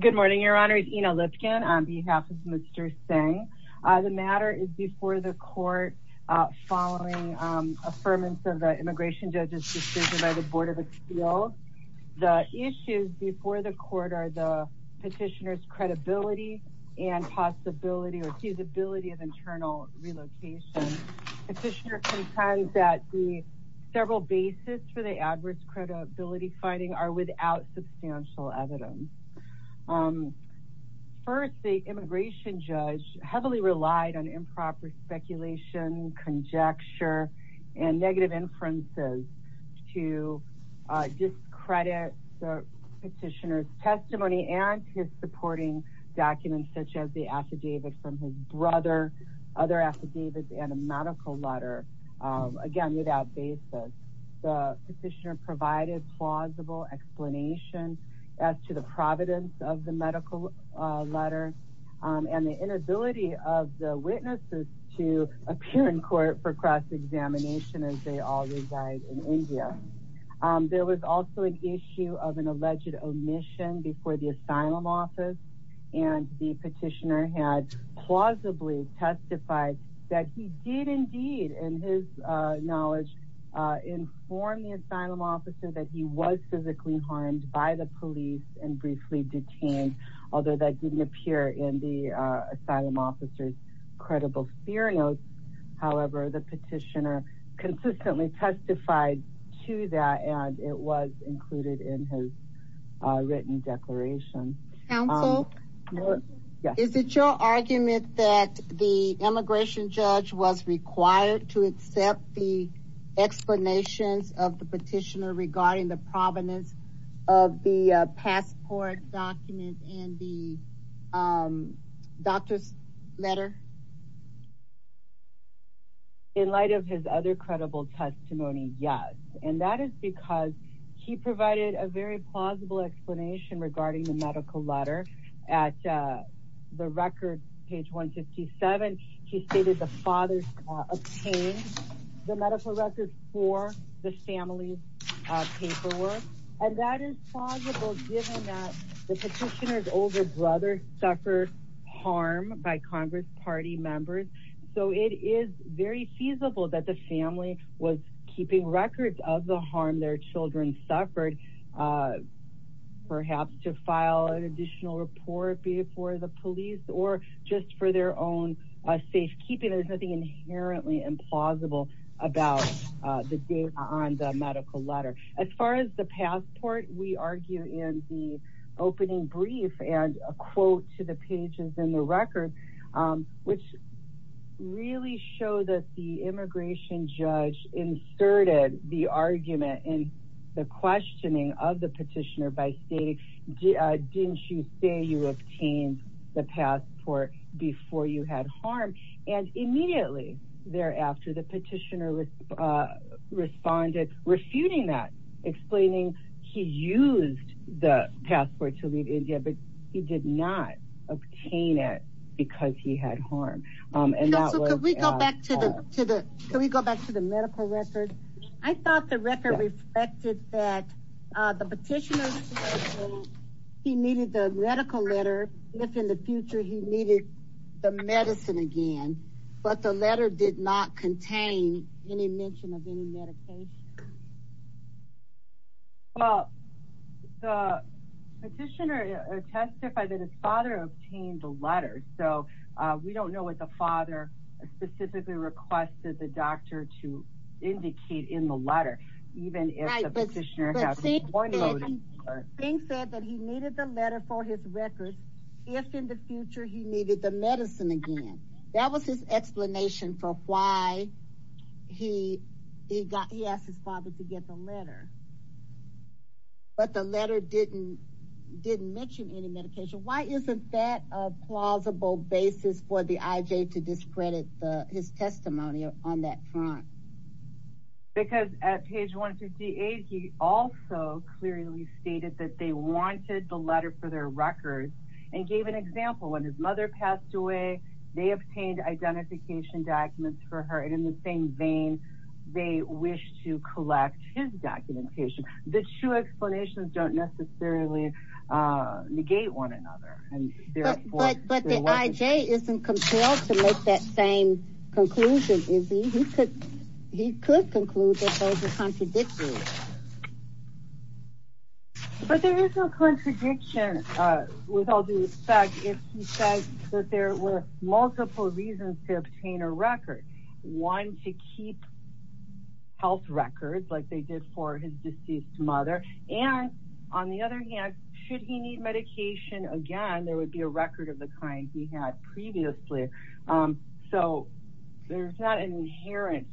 Good morning, Your Honor. It's Ina Lipkin on behalf of Mr. Singh. The matter is before the court following affirmance of the immigration judge's decision by the Board of Appeals. The issues before the court are the petitioner's credibility and possibility or feasibility of internal relocation. Petitioner contends that the several bases for the adverse credibility finding are without substantial evidence. First, the immigration judge heavily relied on improper speculation, conjecture, and negative inferences to discredit the petitioner's testimony and his supporting documents such as the affidavit from his brother, other affidavits, and a medical explanation as to the providence of the medical letter and the inability of the witnesses to appear in court for cross-examination as they all reside in India. There was also an issue of an alleged omission before the asylum office and the petitioner had plausibly testified that he did in his knowledge inform the asylum officer that he was physically harmed by the police and briefly detained, although that didn't appear in the asylum officer's credible theory notes. However, the petitioner consistently testified to that and it was included in his written declaration. Counsel, is it your argument that the immigration judge was required to accept the explanations of the petitioner regarding the provenance of the passport document and the doctor's letter? In light of his other credible testimony, yes, and that is because he provided a very clear explanation of the medical letter. At the record, page 157, he stated the father's obtained the medical records for the family's paperwork and that is plausible given that the petitioner's older brother suffered harm by congress party members, so it is very feasible that the family was keeping records of the harm their children suffered, perhaps to file an additional report before the police or just for their own safekeeping. There's nothing inherently implausible about the date on the medical letter. As far as the passport, we argue in the opening brief and quote to the pages in the record, which really show that the immigration judge inserted the argument in the questioning of the petitioner by stating, didn't you say you obtained the passport before you had harm? And immediately thereafter, the petitioner responded, refuting that, explaining he used the passport to leave India, but he did not obtain it because he had harm. Can we go back to the medical record? I thought the record reflected that the petitioner he needed the medical letter, if in the future he needed the medicine again, but the letter did not contain any mention of any medication. Well, the petitioner testified that his father obtained the letter, so we don't know what the father specifically requested the doctor to indicate in the letter, even if the petitioner thing said that he needed the letter for his records, if in the future he needed the medicine again. That was his explanation for why he got he asked his father to get the letter. But the letter didn't didn't mention any medication. Why isn't that a plausible basis for the IJ to discredit his testimony on that front? Because at page 158, he also clearly stated that they wanted the letter for their records and gave an example when his mother passed away, they obtained identification documents for her and in the same vein, they wish to collect his documentation. The two explanations don't necessarily negate one another. But the IJ isn't compelled to make that same conclusion, is he? He could conclude that those are contradictions. But there is no contradiction with all due respect if he said that there were multiple reasons to obtain a record, one to keep health records like they did for his deceased mother. And on the other hand, should he need medication again, there would be a record of the kind he had previously. So there's not an inherent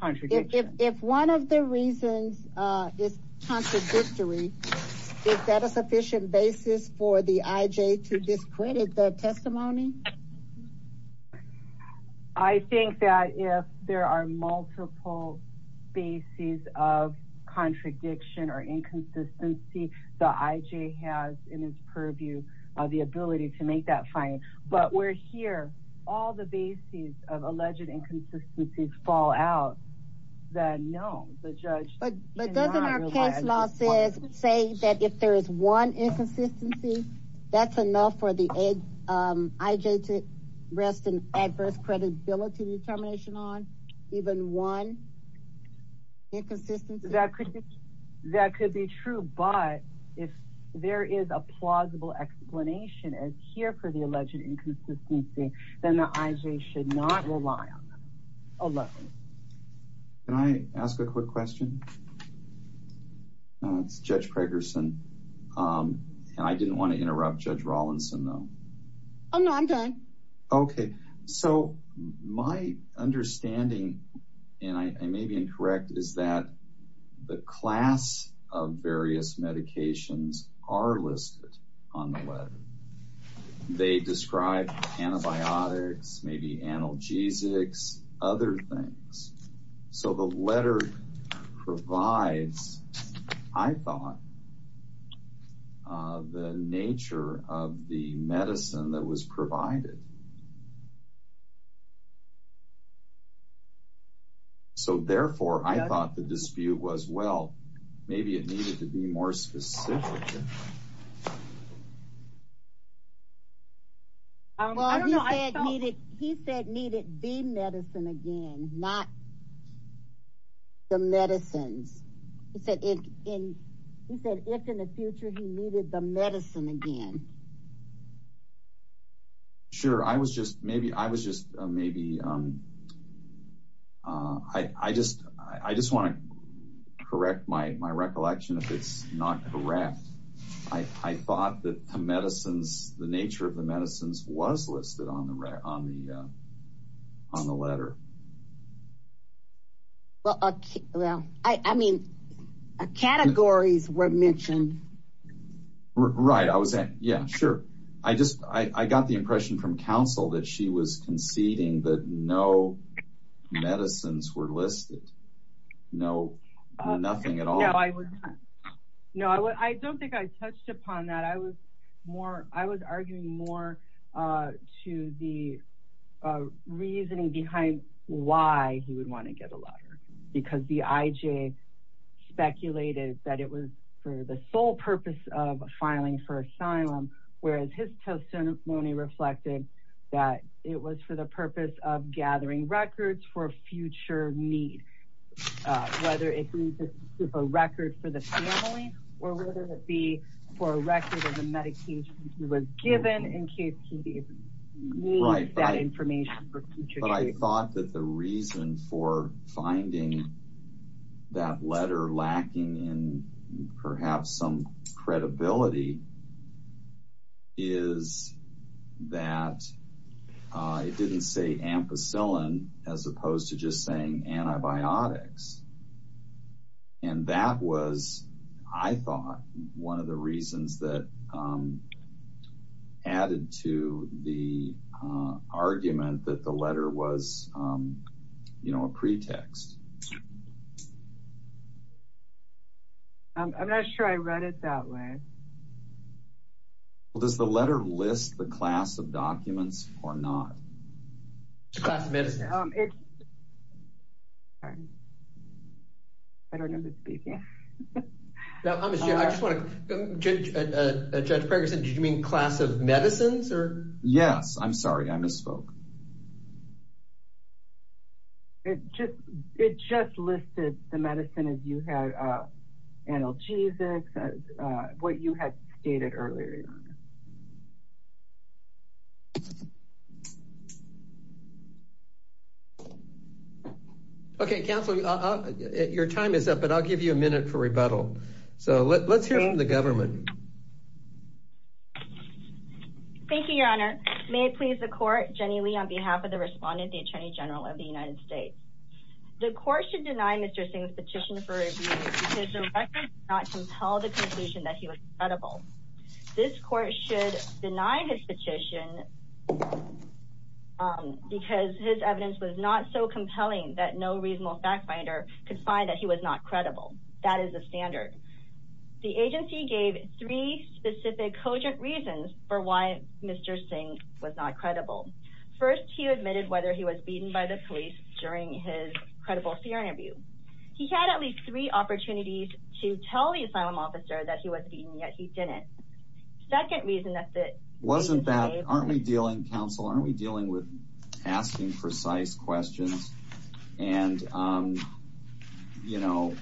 contradiction. If one of the reasons is contradictory, is that a sufficient basis for the IJ to discredit the testimony? I think that if there are multiple bases of contradiction or inconsistency, the IJ has in its purview the ability to make that finding. But we're here, all the bases of alleged inconsistencies fall out, then no, the judge cannot realize. But doesn't our case law say that if there is one inconsistency, that's enough for the IJ to rest an adverse credibility determination on, even one inconsistency? That could be true, but if there is a plausible explanation as here for the alleged inconsistency, then the IJ should not rely on them. Can I ask a quick question? It's Judge Pregerson. And I didn't want to interrupt Judge Rawlinson, though. Oh, no, I'm done. Okay. So my understanding, and I may be incorrect, is that the class of various medications are listed on the letter. They describe antibiotics, maybe analgesics, other things. So the letter provides, I thought, the nature of the medicine that was provided. So therefore, I thought the dispute was, well, maybe it needed to be more specific. Well, he said it needed the medicine again, not the medicines. He said if in the future he needed the medicine again. Sure. I was just maybe, I just want to correct my recollection if it's not correct. I thought that the medicines, the nature of the medicines was listed on the letter. Well, I mean, categories were mentioned. Right. I was saying, yeah, sure. I just, I got the impression from counsel that she was conceding that no medicines were listed. No, nothing at all. No, I don't think I touched upon that. I was more, I was arguing more to the reasoning behind why he would want to get a letter. Because the IJ speculated that it was for the sole purpose of filing for asylum, whereas his testimony reflected that it was for the purpose of gathering records for future need, whether it be a record for the family, or whether it be for a record of the medication he was given in case he needs that information. But I thought that the reason for finding that letter lacking in perhaps some credibility is that it didn't say ampicillin, as opposed to just saying antibiotics. And that was, I thought, one of the reasons that added to the argument that the letter was, you know, a pretext. I'm not sure I read it that way. Well, does the letter list the class of documents or not? The class of medicines. Sorry. I don't know who's speaking. No, I'm just, I just want to, Judge Ferguson, did you mean class of medicines or? Yes. I'm sorry. I misspoke. It just, it just listed the medicine as you had analgesics, as what you had stated earlier, Your Honor. Okay, counsel, your time is up, but I'll give you a minute for rebuttal. So let's hear from the government. Thank you, Your Honor. May it please the court, Jenny Lee, on behalf of the court, on behalf of the respondent, the Attorney General of the United States. The court should deny Mr. Singh's petition for review because the record does not compel the conclusion that he was credible. This court should deny his petition because his evidence was not so compelling that no reasonable fact finder could find that he was not credible. That is the standard. The agency gave three specific cogent reasons for why Mr. Singh was not credible. First, he admitted whether he was beaten by the police during his credible fear interview. He had at least three opportunities to tell the asylum officer that he was beaten, yet he didn't. Second reason that the- Wasn't that, aren't we dealing, counsel, aren't we dealing with asking precise questions? And, you know,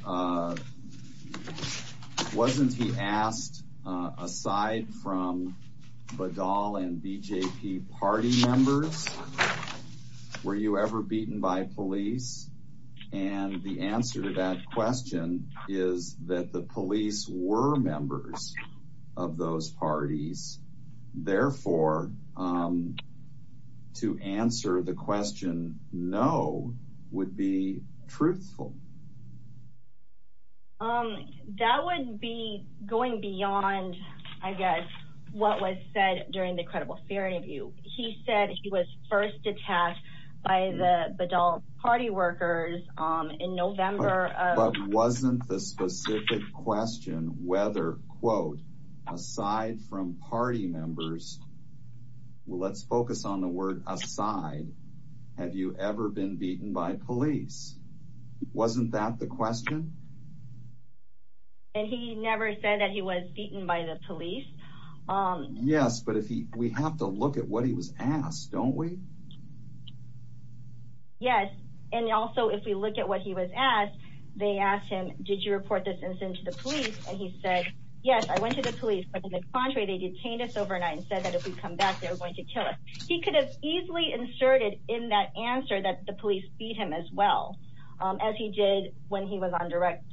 wasn't he asked, aside from Badal and BJP party members, were you ever beaten by police? And the answer to that question is that the police were members of those parties. Therefore, to answer the question, no, would be truthful. That would be going beyond, I guess, what was said during the credible fear interview. He said he was first attacked by the Badal party workers in November of- Well, let's focus on the word aside. Have you ever been beaten by police? Wasn't that the question? And he never said that he was beaten by the police. Yes, but if he- We have to look at what he was asked, don't we? Yes, and also if we look at what he was asked, they asked him, did you report this incident to the police? And he said, yes, I went to the police, but on the contrary, they detained us overnight and said that if we come back, they were going to kill us. He could have easily inserted in that answer that the police beat him as well, as he did when he was on direct,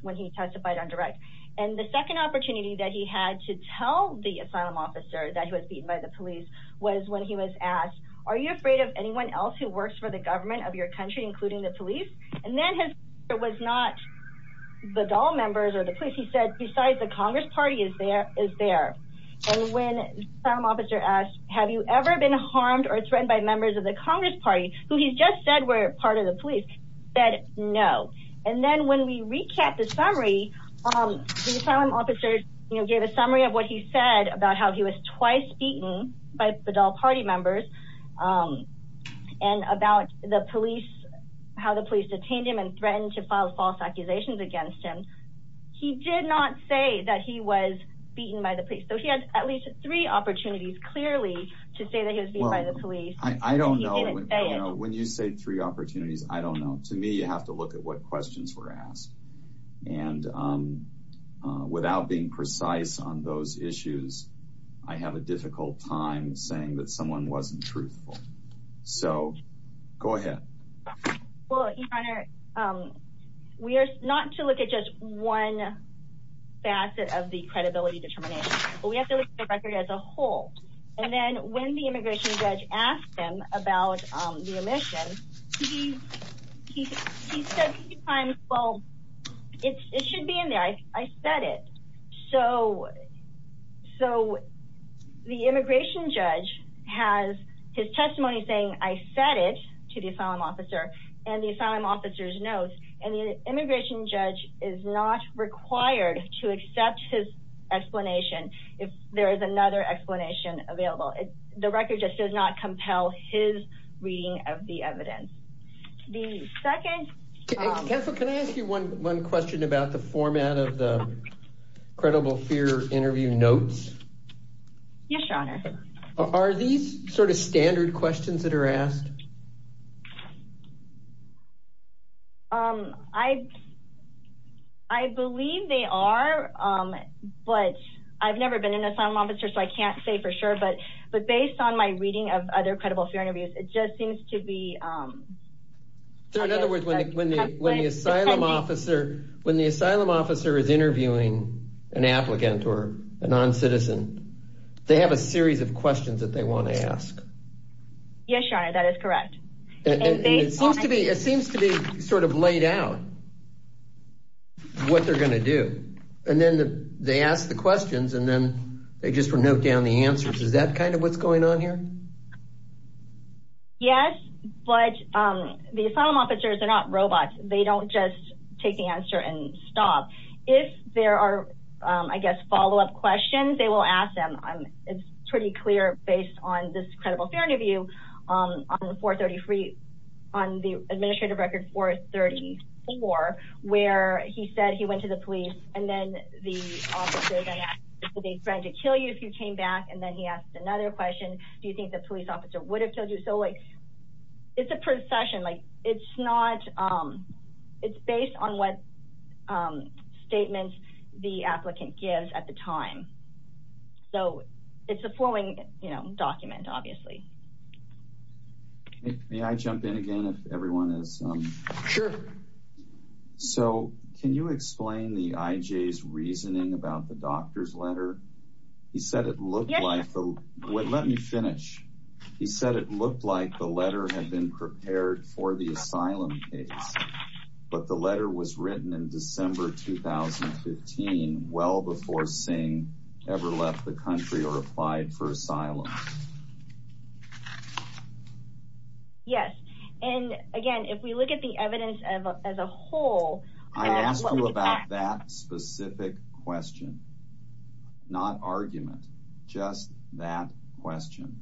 when he testified on direct. And the second opportunity that he had to tell the asylum officer that he was beaten by the police was when he was asked, are you afraid of anyone else who works for the government of your country, including the police? And then his answer was not the Dahl members or the police, he said besides the Congress party is there. And when the asylum officer asked, have you ever been harmed or threatened by members of the Congress party, who he's just said were part of the police, said no. And then when we recap the summary, the asylum officer gave a summary of what he said about how he was twice beaten by the Dahl party members and about the police, how the police detained him and threatened to file false accusations against him, he did not say that he was beaten by the police. So he had at least three opportunities clearly to say that he was beaten by the police. I don't know when you say three opportunities. I don't know. To me, you have to look at what questions were asked. And without being precise on those issues, I have a difficult time saying that someone wasn't truthful. So go ahead. Well, your honor, we are not to look at just one facet of the credibility determination, but we have to look at the record as a whole. And then when the immigration judge asked him about the omission, he said a few times, well, it should be in there. I said it. So the immigration judge has his testimony saying I said it to the asylum officer and the asylum officer's notes and the immigration judge is not required to accept his explanation. If there is another explanation available, the record just does not compel his reading of the evidence. The second. Can I ask you one question about the format of the credible fear interview notes? Yes, your honor. Are these sort of standard questions that are asked? I believe they are, but I've never been an asylum officer, so I can't say for sure. But based on my reading of other credible fear interviews, it just seems to be. So in other words, when the asylum officer is interviewing an applicant or a non-citizen, they have a series of questions that they want to ask. Yes, your honor, that is correct. It seems to be sort of laid out what they're going to do. And then they ask the questions and then they just note down the answers. Is that kind of what's going on here? Yes, but the asylum officers are not robots. They don't just take the answer and stop. If there are, I guess, follow-up questions, they will ask them. It's pretty clear based on this credible fear interview on the administrative record 434, where he said he went to the police and then the officers asked if they threatened to kill you if you came back. And then he asked another question. Do you think the police officer would have killed you? So it's a procession. It's based on what statements the applicant gives at the time. So it's a flowing document, obviously. May I jump in again if everyone is? Sure. He said it looked like, let me finish. He said it looked like the letter had been prepared for the asylum case, but the letter was written in December 2015, well before Singh ever left the country or applied for asylum. Yes, and again, if we look at the evidence as a whole. I asked you about that specific question. Not argument, just that question.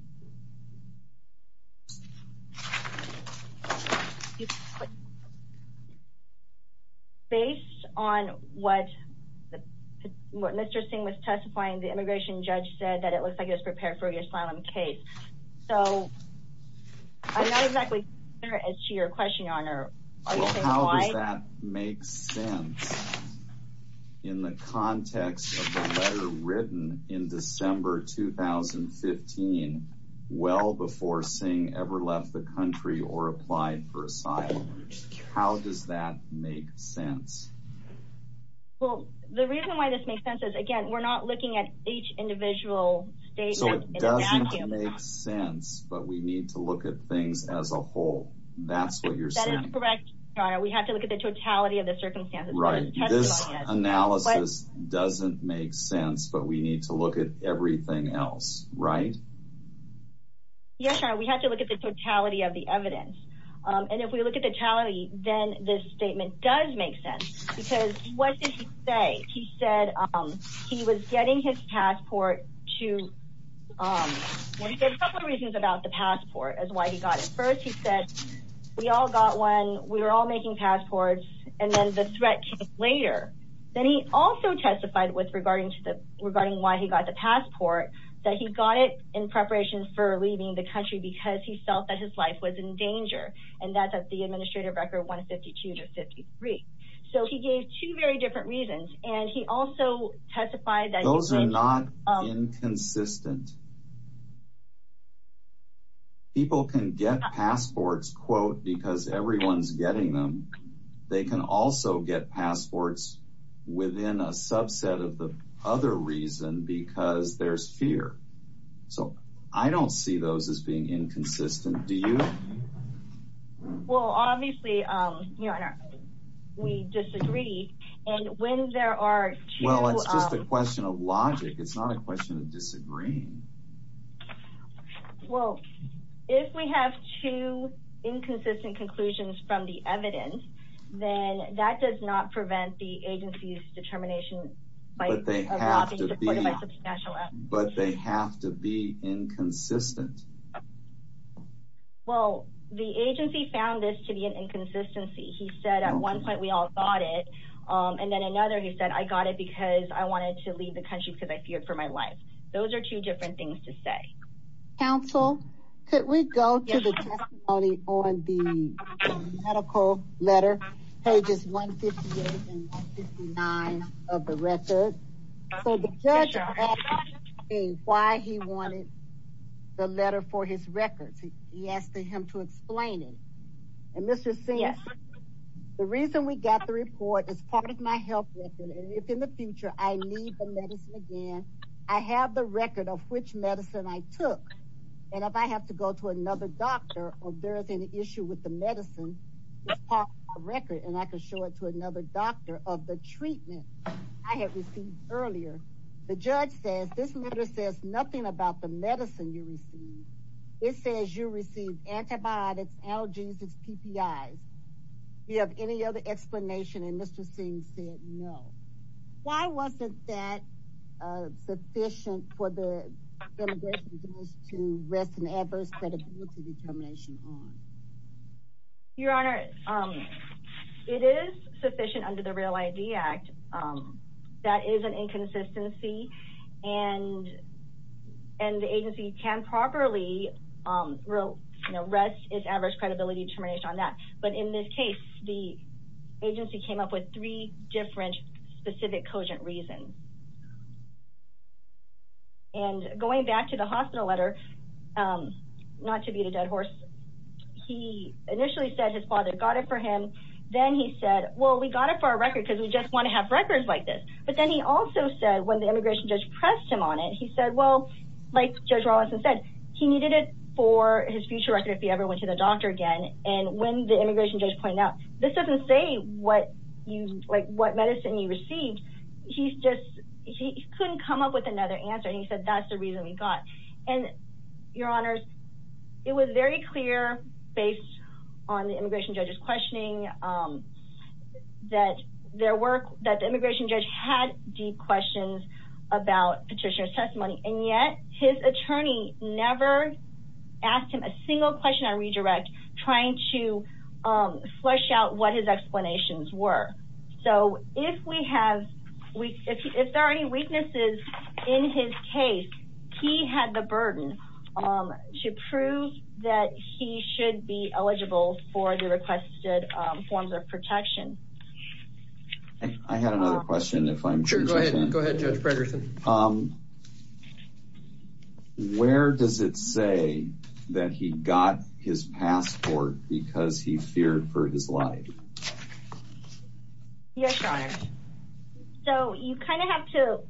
Based on what Mr. Singh was testifying, the immigration judge said that it looks like it was prepared for the asylum case. So I'm not exactly sure as to your question, Your Honor. How does that make sense in the context of the letter written in December 2015, well before Singh ever left the country or applied for asylum? How does that make sense? Well, the reason why this makes sense is, again, we're not looking at each individual state. So it doesn't make sense, but we need to look at things as a whole. That's what you're saying. That is correct, Your Honor. We have to look at the totality of the circumstances. Right. This analysis doesn't make sense, but we need to look at everything else, right? Yes, Your Honor. We have to look at the totality of the evidence. And if we look at the totality, then this statement does make sense. Because what did he say? He said he was getting his passport to... Well, he said a couple of reasons about the passport is why he got it. He said, we all got one. We were all making passports. And then the threat came later. Then he also testified with regarding why he got the passport, that he got it in preparation for leaving the country because he felt that his life was in danger. And that's at the administrative record 152 to 53. So he gave two very different reasons. And he also testified that... Those are not inconsistent. People can get passports, quote, because everyone's getting them. They can also get passports within a subset of the other reason because there's fear. So I don't see those as being inconsistent. Do you? Well, obviously, Your Honor, we disagree. And when there are two... Well, it's just a question of logic. It's not a question of disagreeing. Well, if we have two inconsistent conclusions from the evidence, then that does not prevent the agency's determination by... But they have to be inconsistent. Well, the agency found this to be an inconsistency. He said, at one point, we all got it. And then another, he said, I got it because I wanted to leave the country because I feared for my life. Those are two different things to say. Counsel, could we go to the testimony on the medical letter, pages 158 and 159 of the record? So the judge asked me why he wanted the letter for his records. He asked him to explain it. And Mr. Sims, the reason we got the report is part of my health record. If in the future I need the medicine again, I have the record of which medicine I took. And if I have to go to another doctor or there is any issue with the medicine, it's part of my record. And I can show it to another doctor of the treatment I have received earlier. The judge says this letter says nothing about the medicine you received. It says you received antibiotics, allergies, and PPIs. Do you have any other explanation? And Mr. Sims said, no. Why wasn't that sufficient for the immigration judge to rest an adverse credibility determination on? Your honor, it is sufficient under the Real ID Act. That is an inconsistency and the agency can properly rest its adverse credibility determination on that. But in this case, the agency came up with three different specific cogent reasons. And going back to the hospital letter, not to beat a dead horse, he initially said his father got it for him. Then he said, well, we got it for our record because we just want to have records like this. But then he also said when the immigration judge pressed him on it, he said, well, like Judge Rawlinson said, he needed it for his future record if he ever went to the doctor again. And when the immigration judge pointed out, this doesn't say what medicine you received. He couldn't come up with another answer. And he said, that's the reason we got. And your honors, it was very clear based on the immigration judge's questioning that the immigration judge had deep questions about petitioner's testimony. And yet his attorney never asked him a single question on redirect trying to flesh out what his explanations were. So if we have, if there are any weaknesses in his case, he had the burden to prove that he should be eligible for the requested forms of protection. I had another question. If I'm sure. Go ahead. Go ahead, Judge Fredrickson. Um, where does it say that he got his passport because he feared for his life? Yes, your honor. So you kind of have to,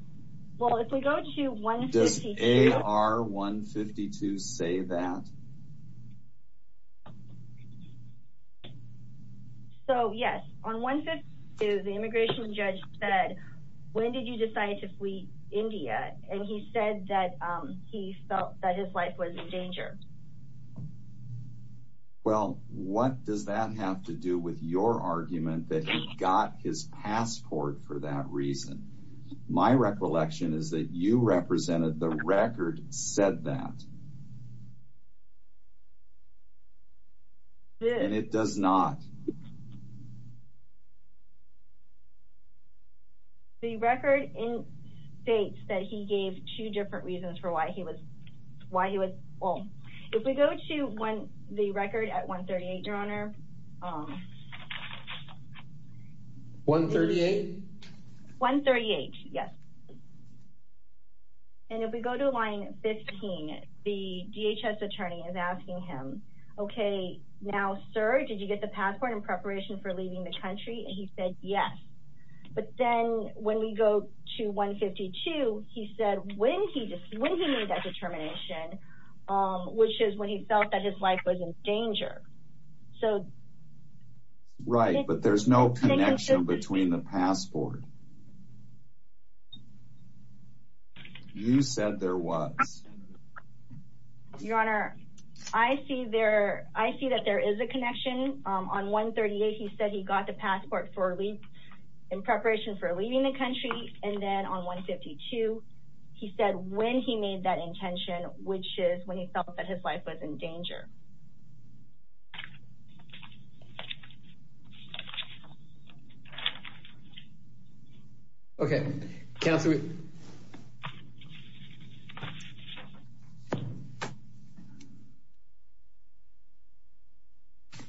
well, if we go to 152. Does AR 152 say that? So yes, on 152, the immigration judge said, when did you decide to flee India? And he said that he felt that his life was in danger. Well, what does that have to do with your argument that he got his passport for that reason? My recollection is that you represented the record said that. And it does not. The record states that he gave two different reasons for why he was, why he was, well, if we go to one, the record at 138, your honor. 138? 138. Yes. And if we go to line 15, the DHS attorney is asking him, okay, now, sir, did you get the passport in preparation for leaving the country? And he said yes. But then when we go to 152, he said when he, when he made that determination, which is when he felt that his life was in danger. So, right. But there's no connection between the passport. You said there was. Your honor, I see there. I see that there is a connection on 138. He said he got the passport in preparation for leaving the country. And then on 152, he said when he made that intention, which is when he felt that his life was in danger. Okay.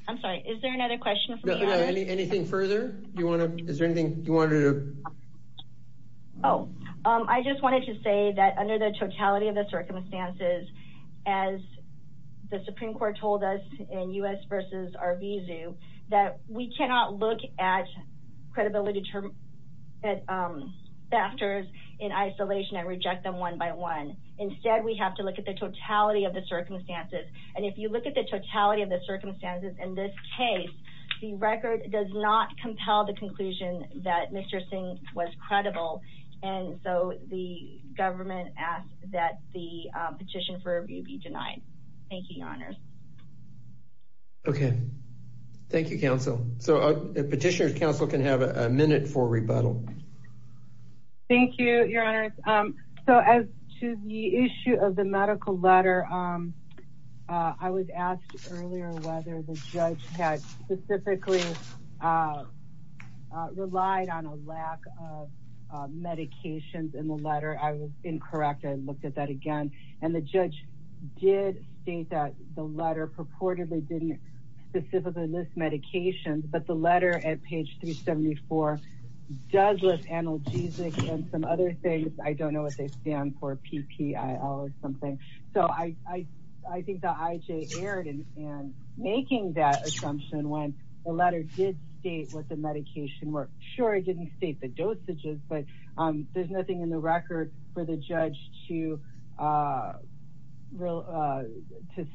I'm sorry. Is there another question from the audience? Anything further you want to, is there anything you wanted to? Oh, I just wanted to say that under the totality of the circumstances, as the Supreme court told us in U.S. versus our visa, that we cannot look at. Credibility. At factors in isolation and reject them one by one. Instead, we have to look at the totality of the circumstances. And if you look at the totality of the circumstances in this case, the record does not compel the conclusion that Mr. Singh was credible. And so the government asked that the petition for review be denied. Thank you, your honors. Okay. Thank you, counsel. So a petitioner's counsel can have a minute for rebuttal. Thank you, your honors. So as to the issue of the medical letter, I was asked earlier whether the judge had specifically relied on a lack of medications in the letter. I was incorrect. I looked at that again and the judge did state that the letter purportedly didn't specifically list medications, but the letter at page 374 does list analgesic and some other things. I don't know what they stand for, PPIL or something. So I think the IJ erred in making that assumption when the letter did state what the medication were. Sure, it didn't state the dosages, but there's nothing in the record for the judge to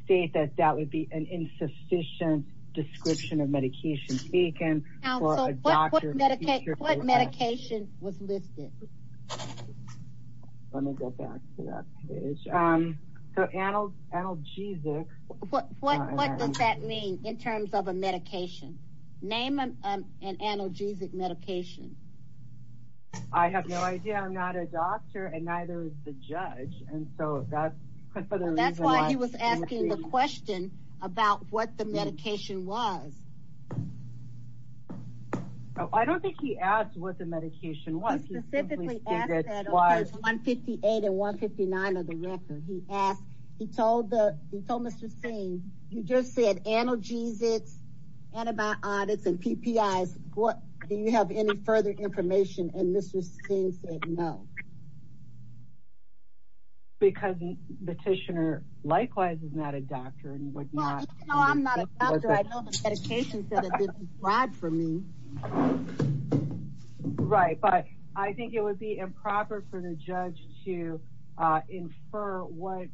state that that would be an insufficient description of medication taken for a doctor. What medication was listed? Let me go back to that page. So analgesic. What does that mean in terms of a medication? Name an analgesic medication. I have no idea. I'm not a doctor and neither is the judge. And so that's for the reason. That's why he was asking the question about what the medication was. Oh, I don't think he asked what the medication was. He specifically asked that on page 158 and 159 of the record. He asked, he told Mr. Singh, you just said analgesics, antibiotics, and PPIs. What? Do you have any further information? And Mr. Singh said no. Because the petitioner likewise is not a doctor and would not. No, I'm not a doctor. I know the petition said it didn't apply for me. Right. But I think it would be improper for the judge to infer what,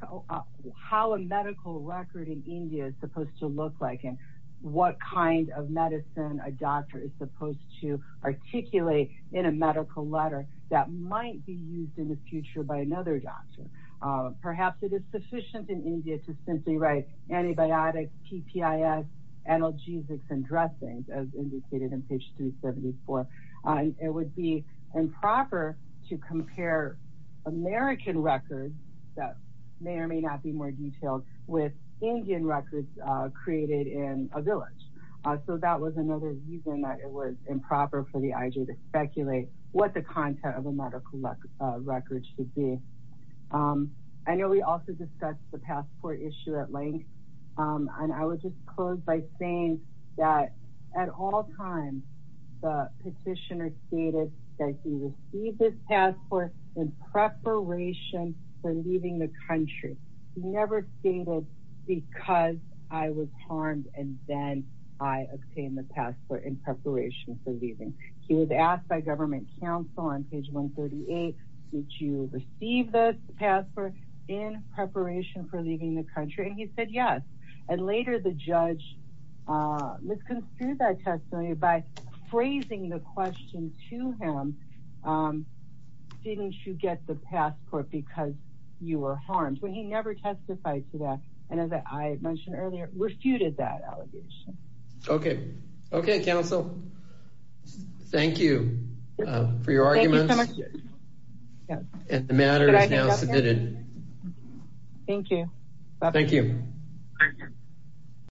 how a medical record in India is supposed to look like and what kind of medicine a doctor is supposed to articulate in a medical letter that might be used in the future by another doctor. Perhaps it is sufficient in India to simply write antibiotics, PPIs, analgesics, and dressings as indicated in page 374. It would be improper to compare American records that may or may not be more detailed with Indian records created in a village. So that was another reason that it was improper for the IJ to speculate what the content of a medical record should be. I know we also discussed the passport issue at length. And I would just close by saying that at all times the petitioner stated that he received this passport in preparation for leaving the country. He never stated because I was harmed and then I obtained the passport in preparation for leaving. He was asked by government counsel on page 138, did you receive the passport in preparation for leaving the country? And he said, yes. And later the judge misconstrued that testimony by phrasing the question to him, didn't you get the passport because you were harmed? But he never testified to that. And as I mentioned earlier, refuted that allegation. Okay. Okay. Counsel. Thank you for your arguments. And the matter is now submitted. Thank you. Thank you.